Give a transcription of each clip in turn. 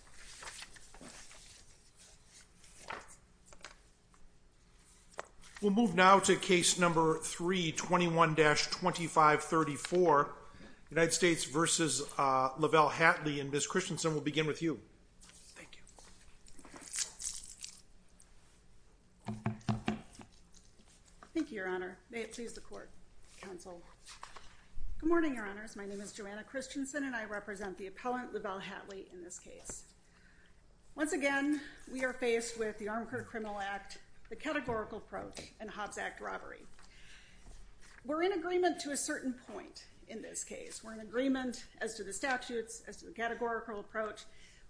and Ms. Christensen will begin with you. Thank you. Thank you, Your Honor. May it please the court. Counsel. Good morning, Your Honors. My name is Joanna Christensen and I represent the appellant, Lavelle Hatley, in this case. Thank you. Thank you. Thank you. Thank you. Thank you. Once again, we are faced with the Armed Criminal Act, the categorical approach, and Hobbs Act robbery. We're in agreement to a certain point in this case. We're in agreement as to the statutes, as to the categorical approach.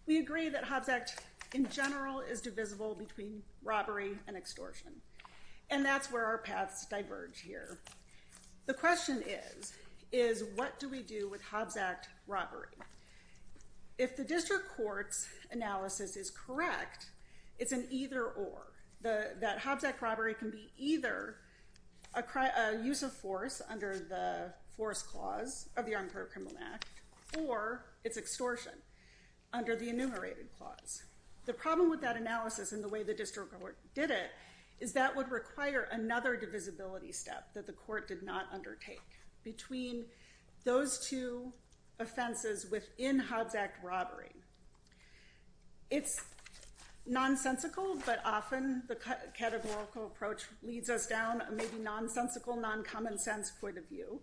We agree that Hobbs Act, in general, is divisible between robbery and extortion. And that's where our paths diverge here. The question is, is what do we do with Hobbs Act robbery? If the district court's analysis is correct, it's an either-or. That Hobbs Act robbery can be either a use of force under the force clause of the Armed Criminal Act, or it's extortion under the enumerated clause. The problem with that analysis and the way the district court did it, is that would require another divisibility step that the court did not undertake. between those two offenses within Hobbs Act robbery. It's nonsensical, but often the categorical approach leads us down a maybe nonsensical, non-common-sense point of view.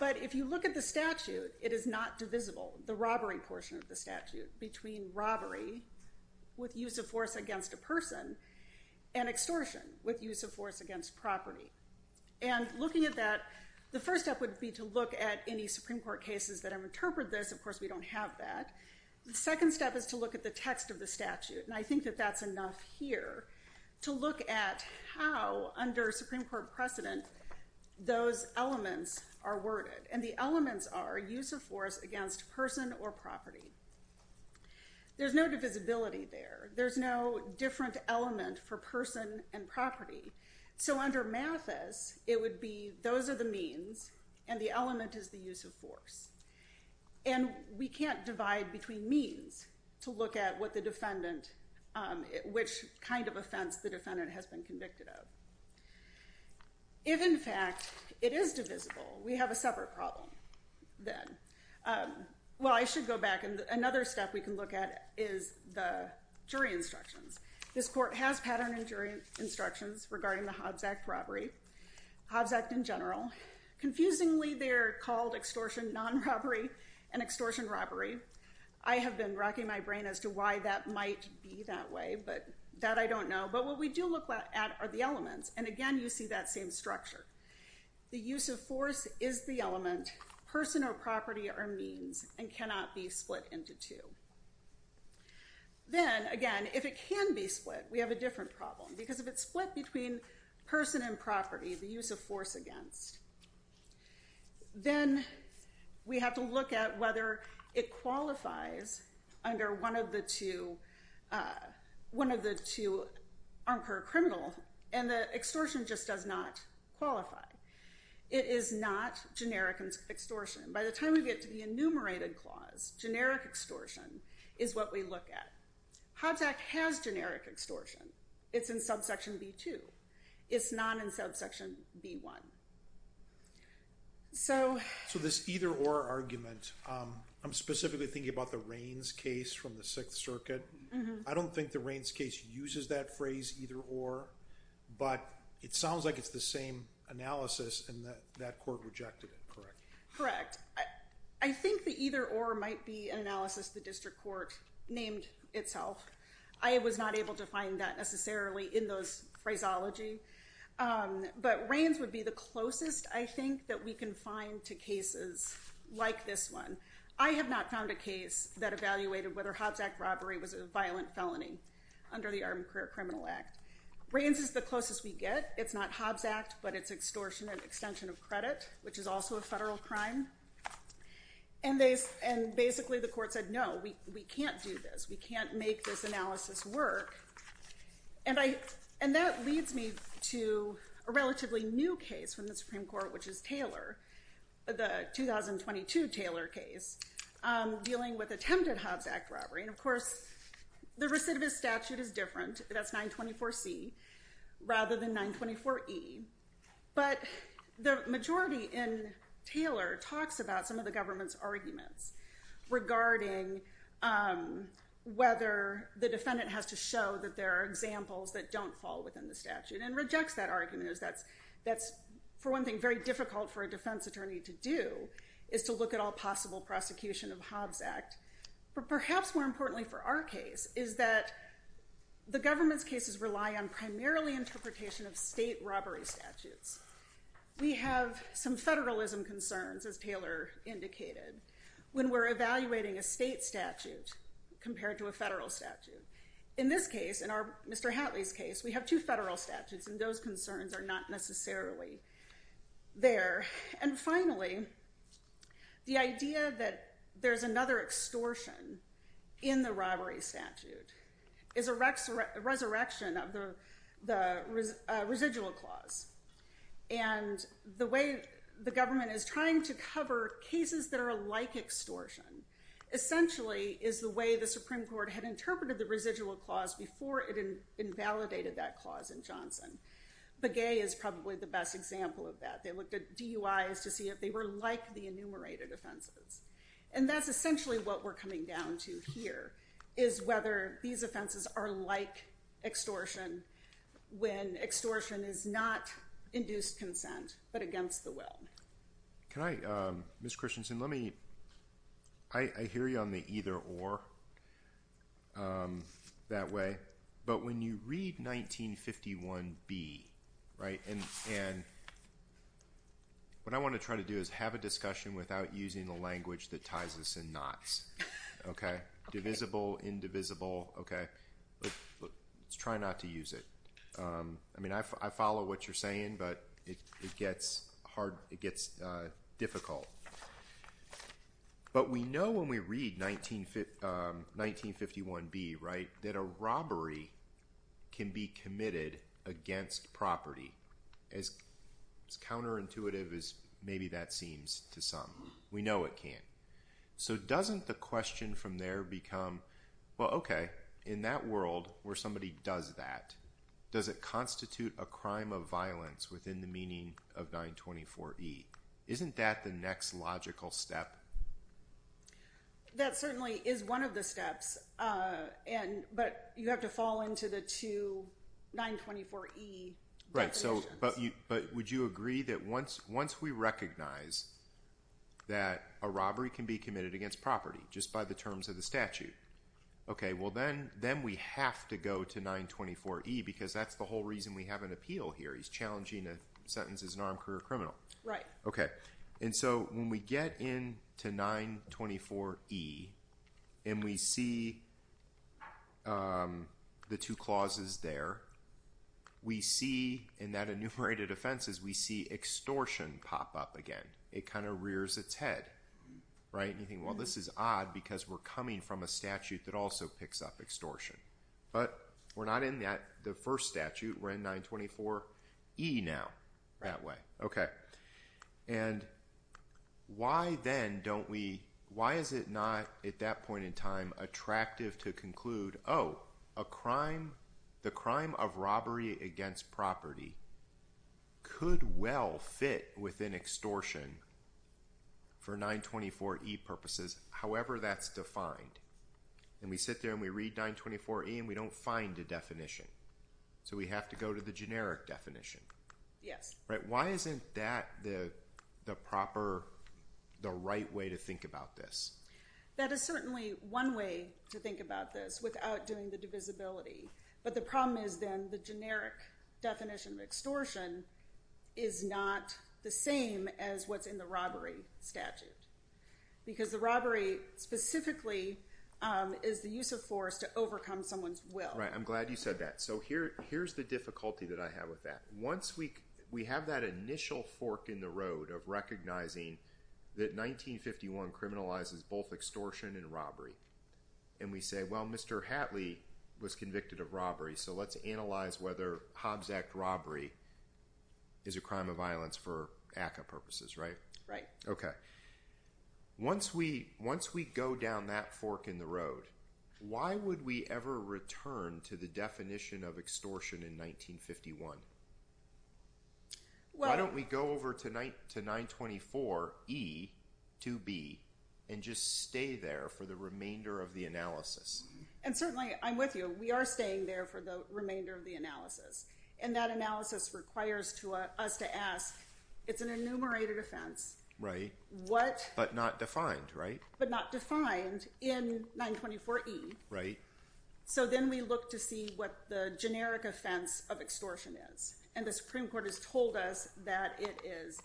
But if you look at the statute, it is not divisible, the robbery portion of the statute, between robbery with use of force against a person and extortion with use of force against property. And looking at that, the first step would be to look at any Supreme Court cases that have interpreted this. Of course, we don't have that. The second step is to look at the text of the statute, and I think that that's enough here, to look at how, under Supreme Court precedent, those elements are worded. And the elements are use of force against person or property. There's no divisibility there. There's no different element for person and property. So under Mathis, it would be those are the means, and the element is the use of force. And we can't divide between means to look at what the defendant, which kind of offense the defendant has been convicted of. If, in fact, it is divisible, we have a separate problem then. Well, I should go back, and another step we can look at is the jury instructions. This court has pattern jury instructions regarding the Hobbs Act robbery, Hobbs Act in general. Confusingly, they're called extortion non-robbery and extortion robbery. I have been racking my brain as to why that might be that way, but that I don't know. But what we do look at are the elements, and again, you see that same structure. The use of force is the element. Person or property are means and cannot be split into two. Then, again, if it can be split, we have a different problem, because if it's split between person and property, the use of force against, then we have to look at whether it qualifies under one of the two unper criminal, and the extortion just does not qualify. It is not generic extortion. By the time we get to the enumerated clause, generic extortion is what we look at. Hobbs Act has generic extortion. It's in subsection B2. It's not in subsection B1. So this either-or argument, I'm specifically thinking about the Raines case from the Sixth Circuit. I don't think the Raines case uses that phrase either-or, but it sounds like it's the same analysis, and that court rejected it, correct? Correct. I think the either-or might be an analysis the district court named itself. I was not able to find that necessarily in those phraseology, but Raines would be the closest, I think, that we can find to cases like this one. I have not found a case that evaluated whether Hobbs Act robbery was a violent felony under the Armed Career Criminal Act. Raines is the closest we get. It's not Hobbs Act, but it's extortion and extension of credit, which is also a federal crime. And basically the court said, no, we can't do this. We can't make this analysis work. And that leads me to a relatively new case from the Supreme Court, which is Taylor, the 2022 Taylor case dealing with attempted Hobbs Act robbery. And, of course, the recidivist statute is different. That's 924C rather than 924E. But the majority in Taylor talks about some of the government's arguments regarding whether the defendant has to show that there are examples that don't fall within the statute and rejects that argument. That's, for one thing, very difficult for a defense attorney to do, is to look at all possible prosecution of Hobbs Act. But perhaps more importantly for our case is that the government's cases rely on primarily interpretation of state robbery statutes. We have some federalism concerns, as Taylor indicated, when we're evaluating a state statute compared to a federal statute. In this case, in Mr. Hatley's case, we have two federal statutes, and those concerns are not necessarily there. And finally, the idea that there's another extortion in the robbery statute is a resurrection of the residual clause. And the way the government is trying to cover cases that are like extortion essentially is the way the Supreme Court had interpreted the residual clause before it invalidated that clause in Johnson. Begay is probably the best example of that. They looked at DUIs to see if they were like the enumerated offenses. And that's essentially what we're coming down to here, is whether these offenses are like extortion when extortion is not induced consent but against the will. Ms. Christensen, I hear you on the either-or that way. But when you read 1951B, what I want to try to do is have a discussion without using the language that ties us in knots. Divisible, indivisible. Let's try not to use it. I follow what you're saying, but it gets difficult. But we know when we read 1951B that a robbery can be committed against property, as counterintuitive as maybe that seems to some. We know it can't. So doesn't the question from there become, well, okay, in that world where somebody does that, does it constitute a crime of violence within the meaning of 924E? Isn't that the next logical step? That certainly is one of the steps, but you have to fall into the two 924E definitions. But would you agree that once we recognize that a robbery can be committed against property, just by the terms of the statute, okay, well then we have to go to 924E because that's the whole reason we have an appeal here. He's challenging a sentence as an armed career criminal. So when we get into 924E and we see the two clauses there, we see in that enumerated offenses, we see extortion pop up again. It kind of rears its head. You think, well, this is odd because we're coming from a statute that also picks up extortion. But we're not in the first statute. We're in 924E now that way. Okay. And why then don't we, why is it not at that point in time attractive to conclude, oh, a crime, the crime of robbery against property could well fit within extortion for 924E purposes, however that's defined. And we sit there and we read 924E and we don't find a definition. So we have to go to the generic definition. Yes. Why isn't that the proper, the right way to think about this? That is certainly one way to think about this without doing the divisibility. But the problem is then the generic definition of extortion is not the same as what's in the robbery statute because the robbery specifically is the use of force to overcome someone's will. Right. I'm glad you said that. So here's the difficulty that I have with that. Once we have that initial fork in the road of recognizing that 1951 criminalizes both extortion and robbery, and we say, well, Mr. Hatley was convicted of robbery, so let's analyze whether Hobbs Act robbery is a crime of violence for ACCA purposes, right? Right. Okay. Once we go down that fork in the road, why would we ever return to the definition of extortion in 1951? Why don't we go over to 924E to B and just stay there for the remainder of the analysis? And certainly, I'm with you, we are staying there for the remainder of the analysis. And that analysis requires us to ask, it's an enumerated offense. Right. But not defined, right? But not defined in 924E. Right. So then we look to see what the generic offense of extortion is, and the Supreme Court has told us that it is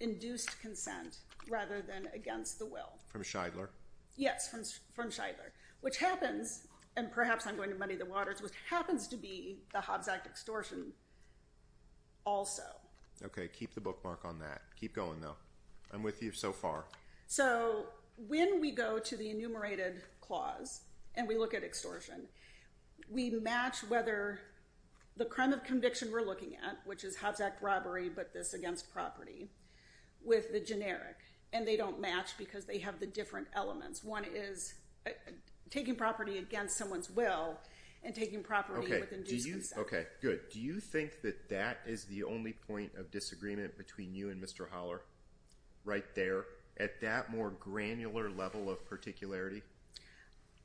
induced consent rather than against the will. From Shidler? Yes, from Shidler, which happens, and perhaps I'm going to muddy the waters, which happens to be the Hobbs Act extortion also. Okay, keep the bookmark on that. Keep going, though. I'm with you so far. So when we go to the enumerated clause and we look at extortion, we match whether the crime of conviction we're looking at, which is Hobbs Act robbery but this against property, with the generic. And they don't match because they have the different elements. One is taking property against someone's will and taking property with induced consent. Okay, good. Do you think that that is the only point of disagreement between you and Mr. Holler right there at that more granular level of particularity?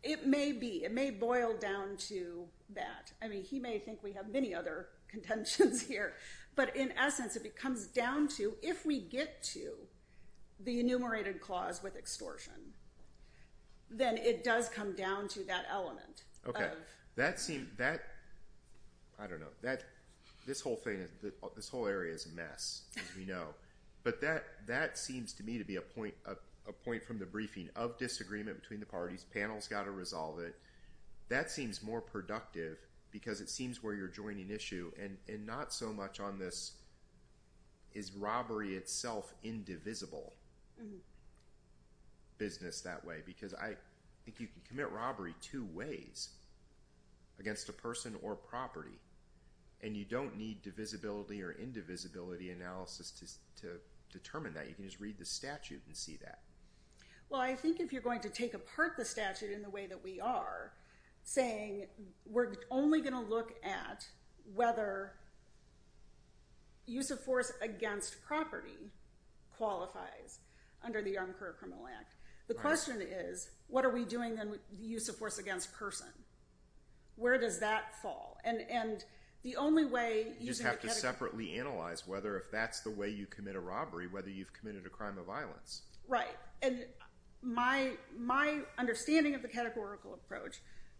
It may be. It may boil down to that. I mean, he may think we have many other contentions here, but in essence it comes down to if we get to the enumerated clause with extortion, then it does come down to that element. Okay. That seems, that, I don't know, this whole area is a mess, as we know. But that seems to me to be a point from the briefing of disagreement between the parties. Panel's got to resolve it. That seems more productive because it seems where you're joining issue and not so much on this is robbery itself indivisible business that way because I think you can commit robbery two ways, against a person or property, and you don't need divisibility or indivisibility analysis to determine that. You can just read the statute and see that. Well, I think if you're going to take apart the statute in the way that we are, saying we're only going to look at whether use of force against property qualifies under the Armed Career Criminal Act. The question is what are we doing then with the use of force against person? Where does that fall? You just have to separately analyze whether if that's the way you commit a robbery, whether you've committed a crime of violence. Right. My understanding of the categorical approach,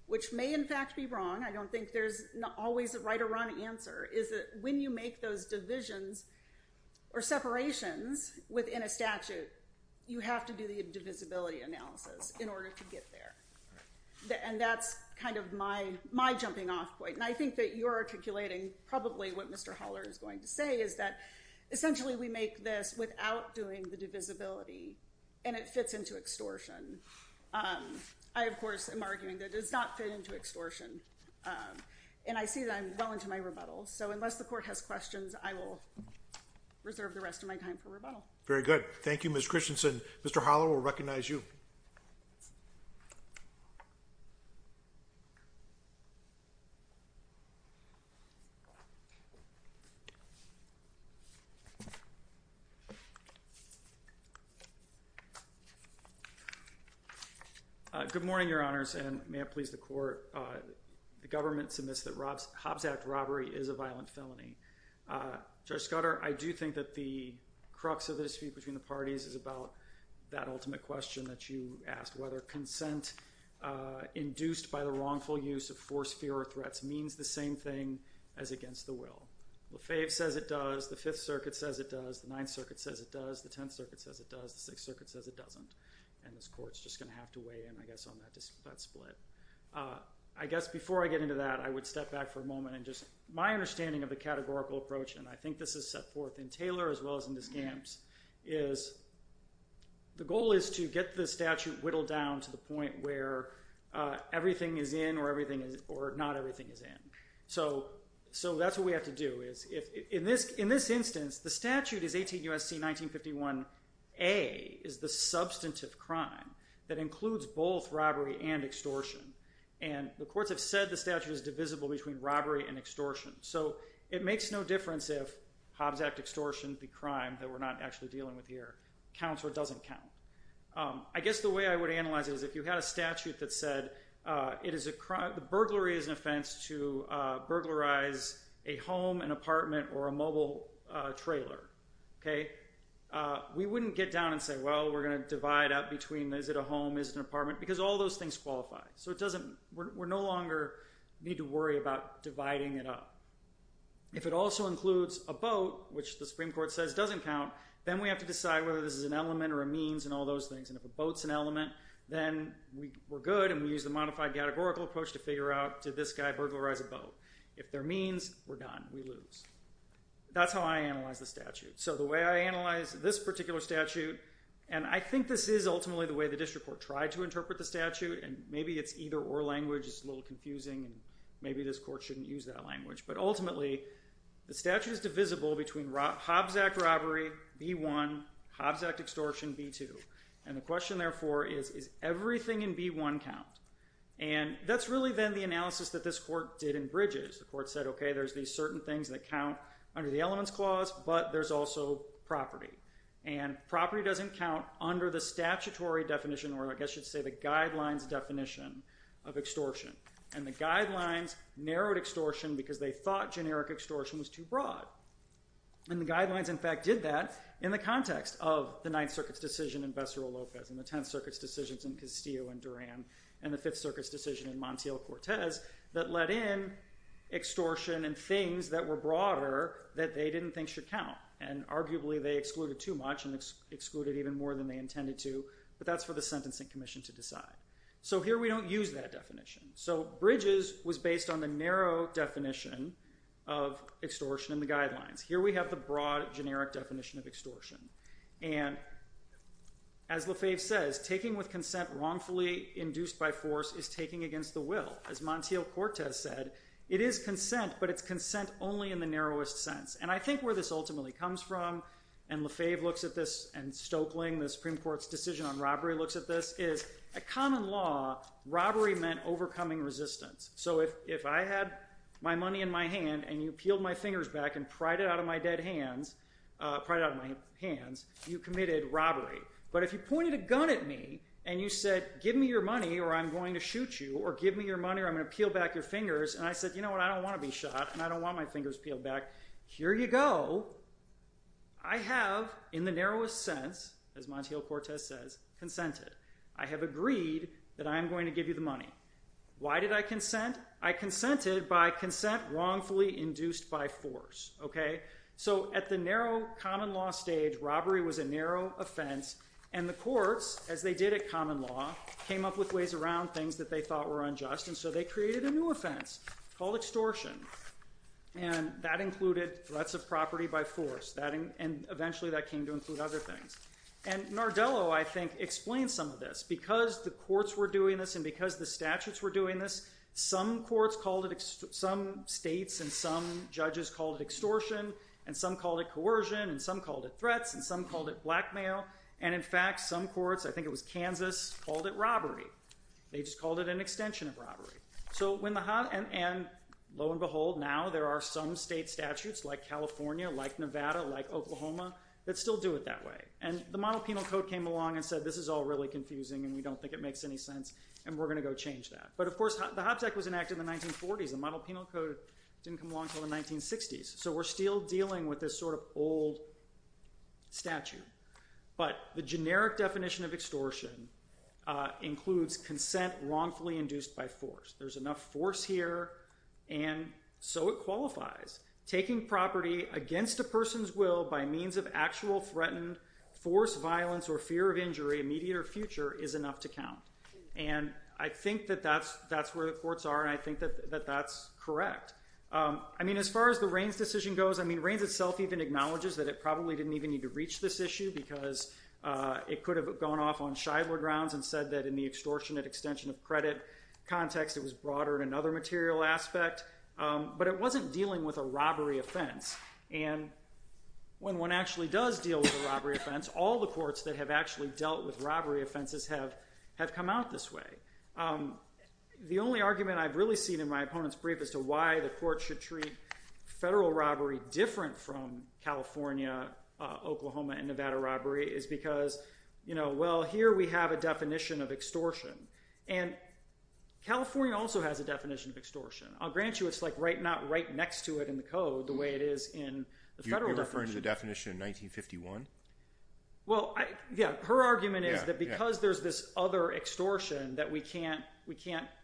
which may in fact be wrong, I don't think there's always a right or wrong answer, is that when you make those divisions or separations within a statute, you have to do the divisibility analysis in order to get there. And that's kind of my jumping off point. And I think that you're articulating probably what Mr. Haller is going to say is that essentially we make this without doing the divisibility and it fits into extortion. I, of course, am arguing that it does not fit into extortion. And I see that I'm well into my rebuttal. So unless the court has questions, I will reserve the rest of my time for rebuttal. Very good. Thank you, Ms. Christensen. Mr. Haller will recognize you. Good morning, Your Honors, and may it please the court. The government submits that Hobbs Act robbery is a violent felony. Judge Scudder, I do think that the crux of the dispute between the parties is about that ultimate question that you asked, whether consent induced by the wrongful use of force, fear, or threats means the same thing as against the will. Lefebvre says it does. The Fifth Circuit says it does. The Ninth Circuit says it does. The Tenth Circuit says it does. The Sixth Circuit says it doesn't. And this court is just going to have to weigh in, I guess, on that split. I guess before I get into that, I would step back for a moment and just my understanding of the categorical approach, and I think this is set forth in Taylor as well as in Descamps, is the goal is to get the statute whittled down to the point where everything is in or not everything is in. So that's what we have to do. In this instance, the statute is 18 U.S.C. 1951a, is the substantive crime that includes both robbery and extortion. And the courts have said the statute is divisible between robbery and extortion. So it makes no difference if Hobbs Act extortion, the crime that we're not actually dealing with here, counts or doesn't count. I guess the way I would analyze it is if you had a statute that said the burglary is an offense to burglarize a home and apartment or a mobile trailer, we wouldn't get down and say, well, we're going to divide up between is it a home, is it an apartment? Because all those things qualify. So we no longer need to worry about dividing it up. If it also includes a boat, which the Supreme Court says doesn't count, then we have to decide whether this is an element or a means and all those things. And if a boat's an element, then we're good and we use the modified categorical approach to figure out, did this guy burglarize a boat? If they're means, we're done. We lose. That's how I analyze the statute. So the way I analyze this particular statute, and I think this is ultimately the way the district court tried to interpret the statute, and maybe it's either or language is a little confusing, and maybe this court shouldn't use that language. But ultimately, the statute is divisible between Hobbs Act robbery, B-1, Hobbs Act extortion, B-2. And the question, therefore, is, is everything in B-1 count? And that's really, then, the analysis that this court did in Bridges. The court said, okay, there's these certain things that count under the elements clause, but there's also property. And property doesn't count under the statutory definition, or I guess you'd say the guidelines definition of extortion. And the guidelines narrowed extortion because they thought generic extortion was too broad. And the guidelines, in fact, did that in the context of the Ninth Circuit's decision in Bessarol-Lopez and the Tenth Circuit's decisions in Castillo and Duran, and the Fifth Circuit's decision in Montiel-Cortez that let in extortion and things that were broader that they didn't think should count. And arguably, they excluded too much and excluded even more than they intended to, but that's for the Sentencing Commission to decide. So here we don't use that definition. So Bridges was based on the narrow definition of extortion in the guidelines. Here we have the broad, generic definition of extortion. And as Lefebvre says, taking with consent wrongfully induced by force is taking against the will. As Montiel-Cortez said, it is consent, but it's consent only in the narrowest sense. And I think where this ultimately comes from, and Lefebvre looks at this and Stoeckling, the Supreme Court's decision on robbery, looks at this, is a common law, robbery meant overcoming resistance. So if I had my money in my hand and you peeled my fingers back and pried it out of my hands, you committed robbery. But if you pointed a gun at me and you said, give me your money or I'm going to shoot you or give me your money or I'm going to peel back your fingers, and I said, you know what, I don't want to be shot and I don't want my fingers peeled back, here you go. I have, in the narrowest sense, as Montiel-Cortez says, consented. I have agreed that I am going to give you the money. Why did I consent? I consented by consent wrongfully induced by force. So at the narrow common law stage, robbery was a narrow offense, and the courts, as they did at common law, came up with ways around things that they thought were unjust, and so they created a new offense called extortion. And that included threats of property by force, and eventually that came to include other things. And Nardello, I think, explains some of this. Because the courts were doing this and because the statutes were doing this, some states and some judges called it extortion and some called it coercion and some called it threats and some called it blackmail. And in fact, some courts, I think it was Kansas, called it robbery. They just called it an extension of robbery. And lo and behold, now there are some state statutes, like California, like Nevada, like Oklahoma, that still do it that way. And the monopenal code came along and said, this is all really confusing and we don't think it makes any sense and we're going to go change that. But, of course, the Hobbs Act was enacted in the 1940s. The monopenal code didn't come along until the 1960s. So we're still dealing with this sort of old statute. But the generic definition of extortion includes consent wrongfully induced by force. There's enough force here, and so it qualifies. Taking property against a person's will by means of actual threatened force, violence, or fear of injury, immediate or future, is enough to count. And I think that that's where the courts are, and I think that that's correct. I mean, as far as the Reins decision goes, Reins itself even acknowledges that it probably didn't even need to reach this issue because it could have gone off on Shidler grounds and said that in the extortionate extension of credit context, it was broader in another material aspect. But it wasn't dealing with a robbery offense. And when one actually does deal with a robbery offense, all the courts that have actually dealt with robbery offenses have come out this way. The only argument I've really seen in my opponent's brief as to why the court should treat federal robbery different from California, Oklahoma, and Nevada robbery is because, well, here we have a definition of extortion. And California also has a definition of extortion. I'll grant you it's not right next to it in the code the way it is in the federal definition. You're referring to the definition in 1951? Well, yeah. Her argument is that because there's this other extortion that we can't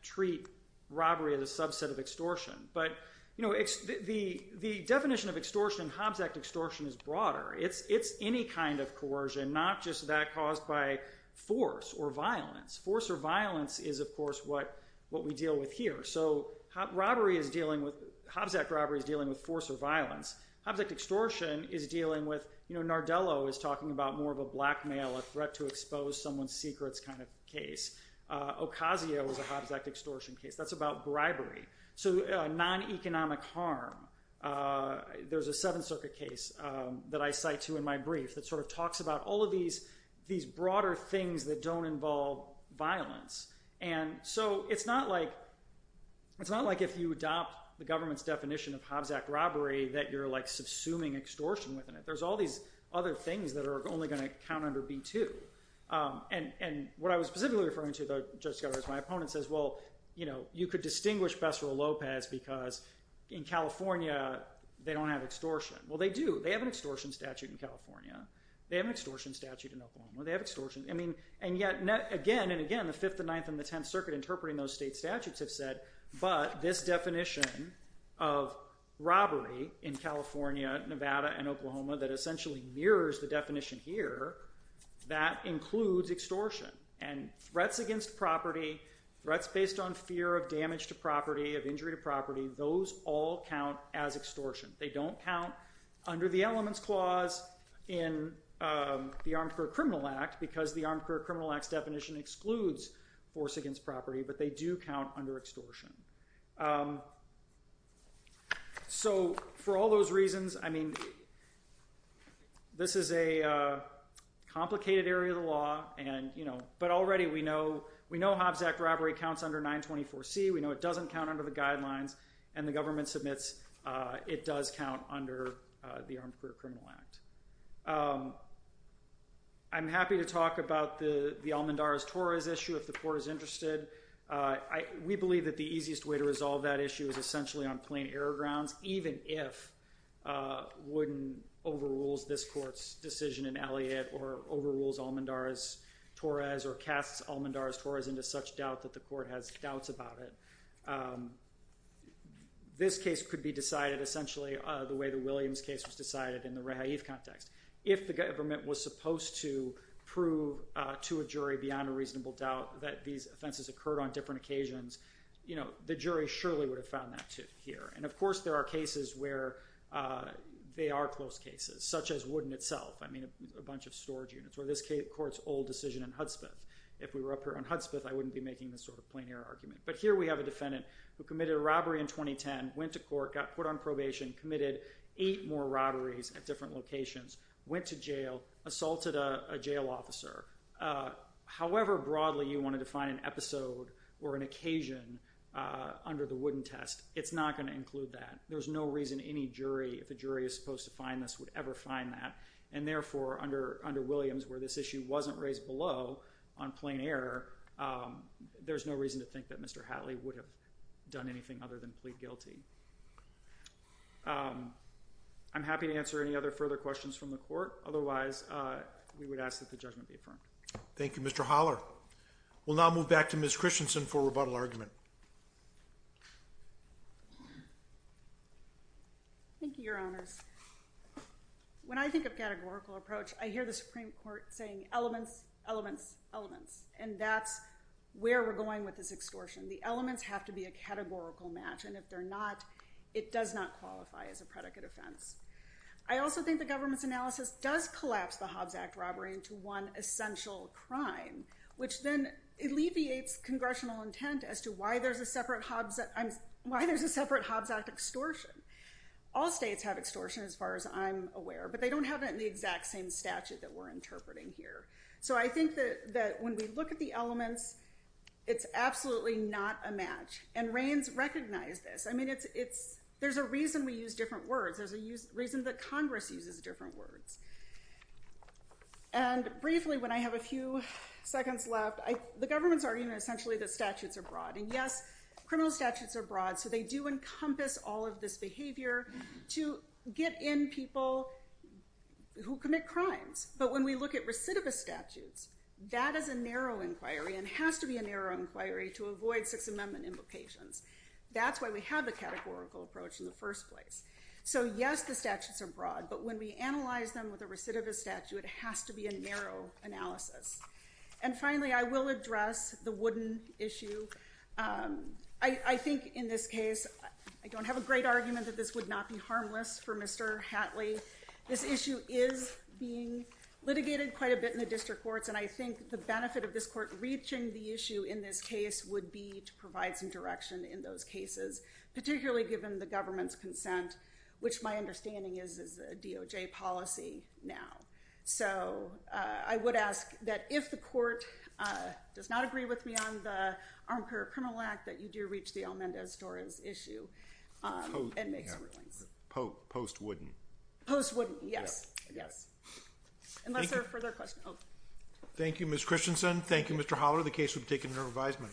treat robbery as a subset of extortion. But the definition of extortion, Hobbs Act extortion, is broader. It's any kind of coercion, not just that caused by force or violence. Force or violence is, of course, what we deal with here. So Hobbs Act robbery is dealing with force or violence. Hobbs Act extortion is dealing with, you know, Nardello is talking about more of a blackmail, a threat to expose someone's secrets kind of case. Ocasio is a Hobbs Act extortion case. That's about bribery, so non-economic harm. There's a Seventh Circuit case that I cite to in my brief that sort of talks about all of these broader things that don't involve violence. And so it's not like if you adopt the government's definition of Hobbs Act robbery that you're, like, subsuming extortion within it. There's all these other things that are only going to count under B-2. And what I was specifically referring to, though, Judge Scudero is my opponent, says, well, you know, you could distinguish Pesaro-Lopez because in California they don't have extortion. Well, they do. They have an extortion statute in California. They have an extortion statute in Oklahoma. They have extortion. I mean, and yet, again and again, the Fifth, the Ninth, and the Tenth Circuit interpreting those state statutes have said, but this definition of robbery in California, Nevada, and Oklahoma that essentially mirrors the definition here, that includes extortion. And threats against property, threats based on fear of damage to property, of injury to property, those all count as extortion. They don't count under the Elements Clause in the Armed Career Criminal Act because the Armed Career Criminal Act's definition excludes force against property, but they do count under extortion. So for all those reasons, I mean, this is a complicated area of the law, but already we know Hobbs Act robbery counts under 924C. We know it doesn't count under the guidelines, and the government submits it does count under the Armed Career Criminal Act. I'm happy to talk about the Almendarez-Torres issue if the court is interested. We believe that the easiest way to resolve that issue is essentially on plain error grounds, even if Wooden overrules this court's decision in Elliott or overrules Almendarez-Torres or casts Almendarez-Torres into such doubt that the court has doubts about it. This case could be decided essentially the way the Williams case was decided in the rehaif context. If the government was supposed to prove to a jury beyond a reasonable doubt that these offenses occurred on different occasions, the jury surely would have found that here. And of course, there are cases where they are close cases, such as Wooden itself, I mean, a bunch of storage units, or this court's old decision in Hudspeth. If we were up here on Hudspeth, I wouldn't be making this sort of plain error argument. But here we have a defendant who committed a robbery in 2010, went to court, got put on probation, committed eight more robberies, at different locations, went to jail, assaulted a jail officer. However broadly you wanted to find an episode or an occasion under the Wooden test, it's not going to include that. There's no reason any jury, if a jury is supposed to find this, would ever find that. And therefore, under Williams, where this issue wasn't raised below on plain error, there's no reason to think that Mr. Hatley would have done anything other than plead guilty. I'm happy to answer any other further questions from the court. Otherwise, we would ask that the judgment be affirmed. Thank you, Mr. Holler. We'll now move back to Ms. Christensen for rebuttal argument. Thank you, Your Honors. When I think of categorical approach, I hear the Supreme Court saying, elements, elements, elements. And that's where we're going with this extortion. The elements have to be a categorical match. And if they're not, it does not qualify as a predicate offense. I also think the government's analysis does collapse the Hobbs Act robbery into one essential crime, which then alleviates congressional intent as to why there's a separate Hobbs Act extortion. All states have extortion, as far as I'm aware, but they don't have it in the exact same statute that we're interpreting here. So I think that when we look at the elements, it's absolutely not a match. And Reins recognized this. I mean, there's a reason we use different words. There's a reason that Congress uses different words. And briefly, when I have a few seconds left, the government's arguing essentially that statutes are broad. And yes, criminal statutes are broad, so they do encompass all of this behavior to get in people who commit crimes. But when we look at recidivist statutes, that is a narrow inquiry and has to be a narrow inquiry to avoid Sixth Amendment implications. That's why we have the categorical approach in the first place. So, yes, the statutes are broad, but when we analyze them with a recidivist statute, it has to be a narrow analysis. And finally, I will address the wooden issue. I think in this case, I don't have a great argument that this would not be harmless for Mr. Hatley. This issue is being litigated quite a bit in the district courts, and I think the benefit of this court reaching the issue in this case would be to provide some direction in those cases, particularly given the government's consent, which my understanding is is a DOJ policy now. So I would ask that if the court does not agree with me on the Armed Carrier Criminal Act, that you do reach the Almendez-Dorans issue and make some rulings. Post-wooden. Post-wooden, yes. Yes. Unless there are further questions. Thank you, Ms. Christensen. Thank you, Mr. Holler. The case will be taken into revision.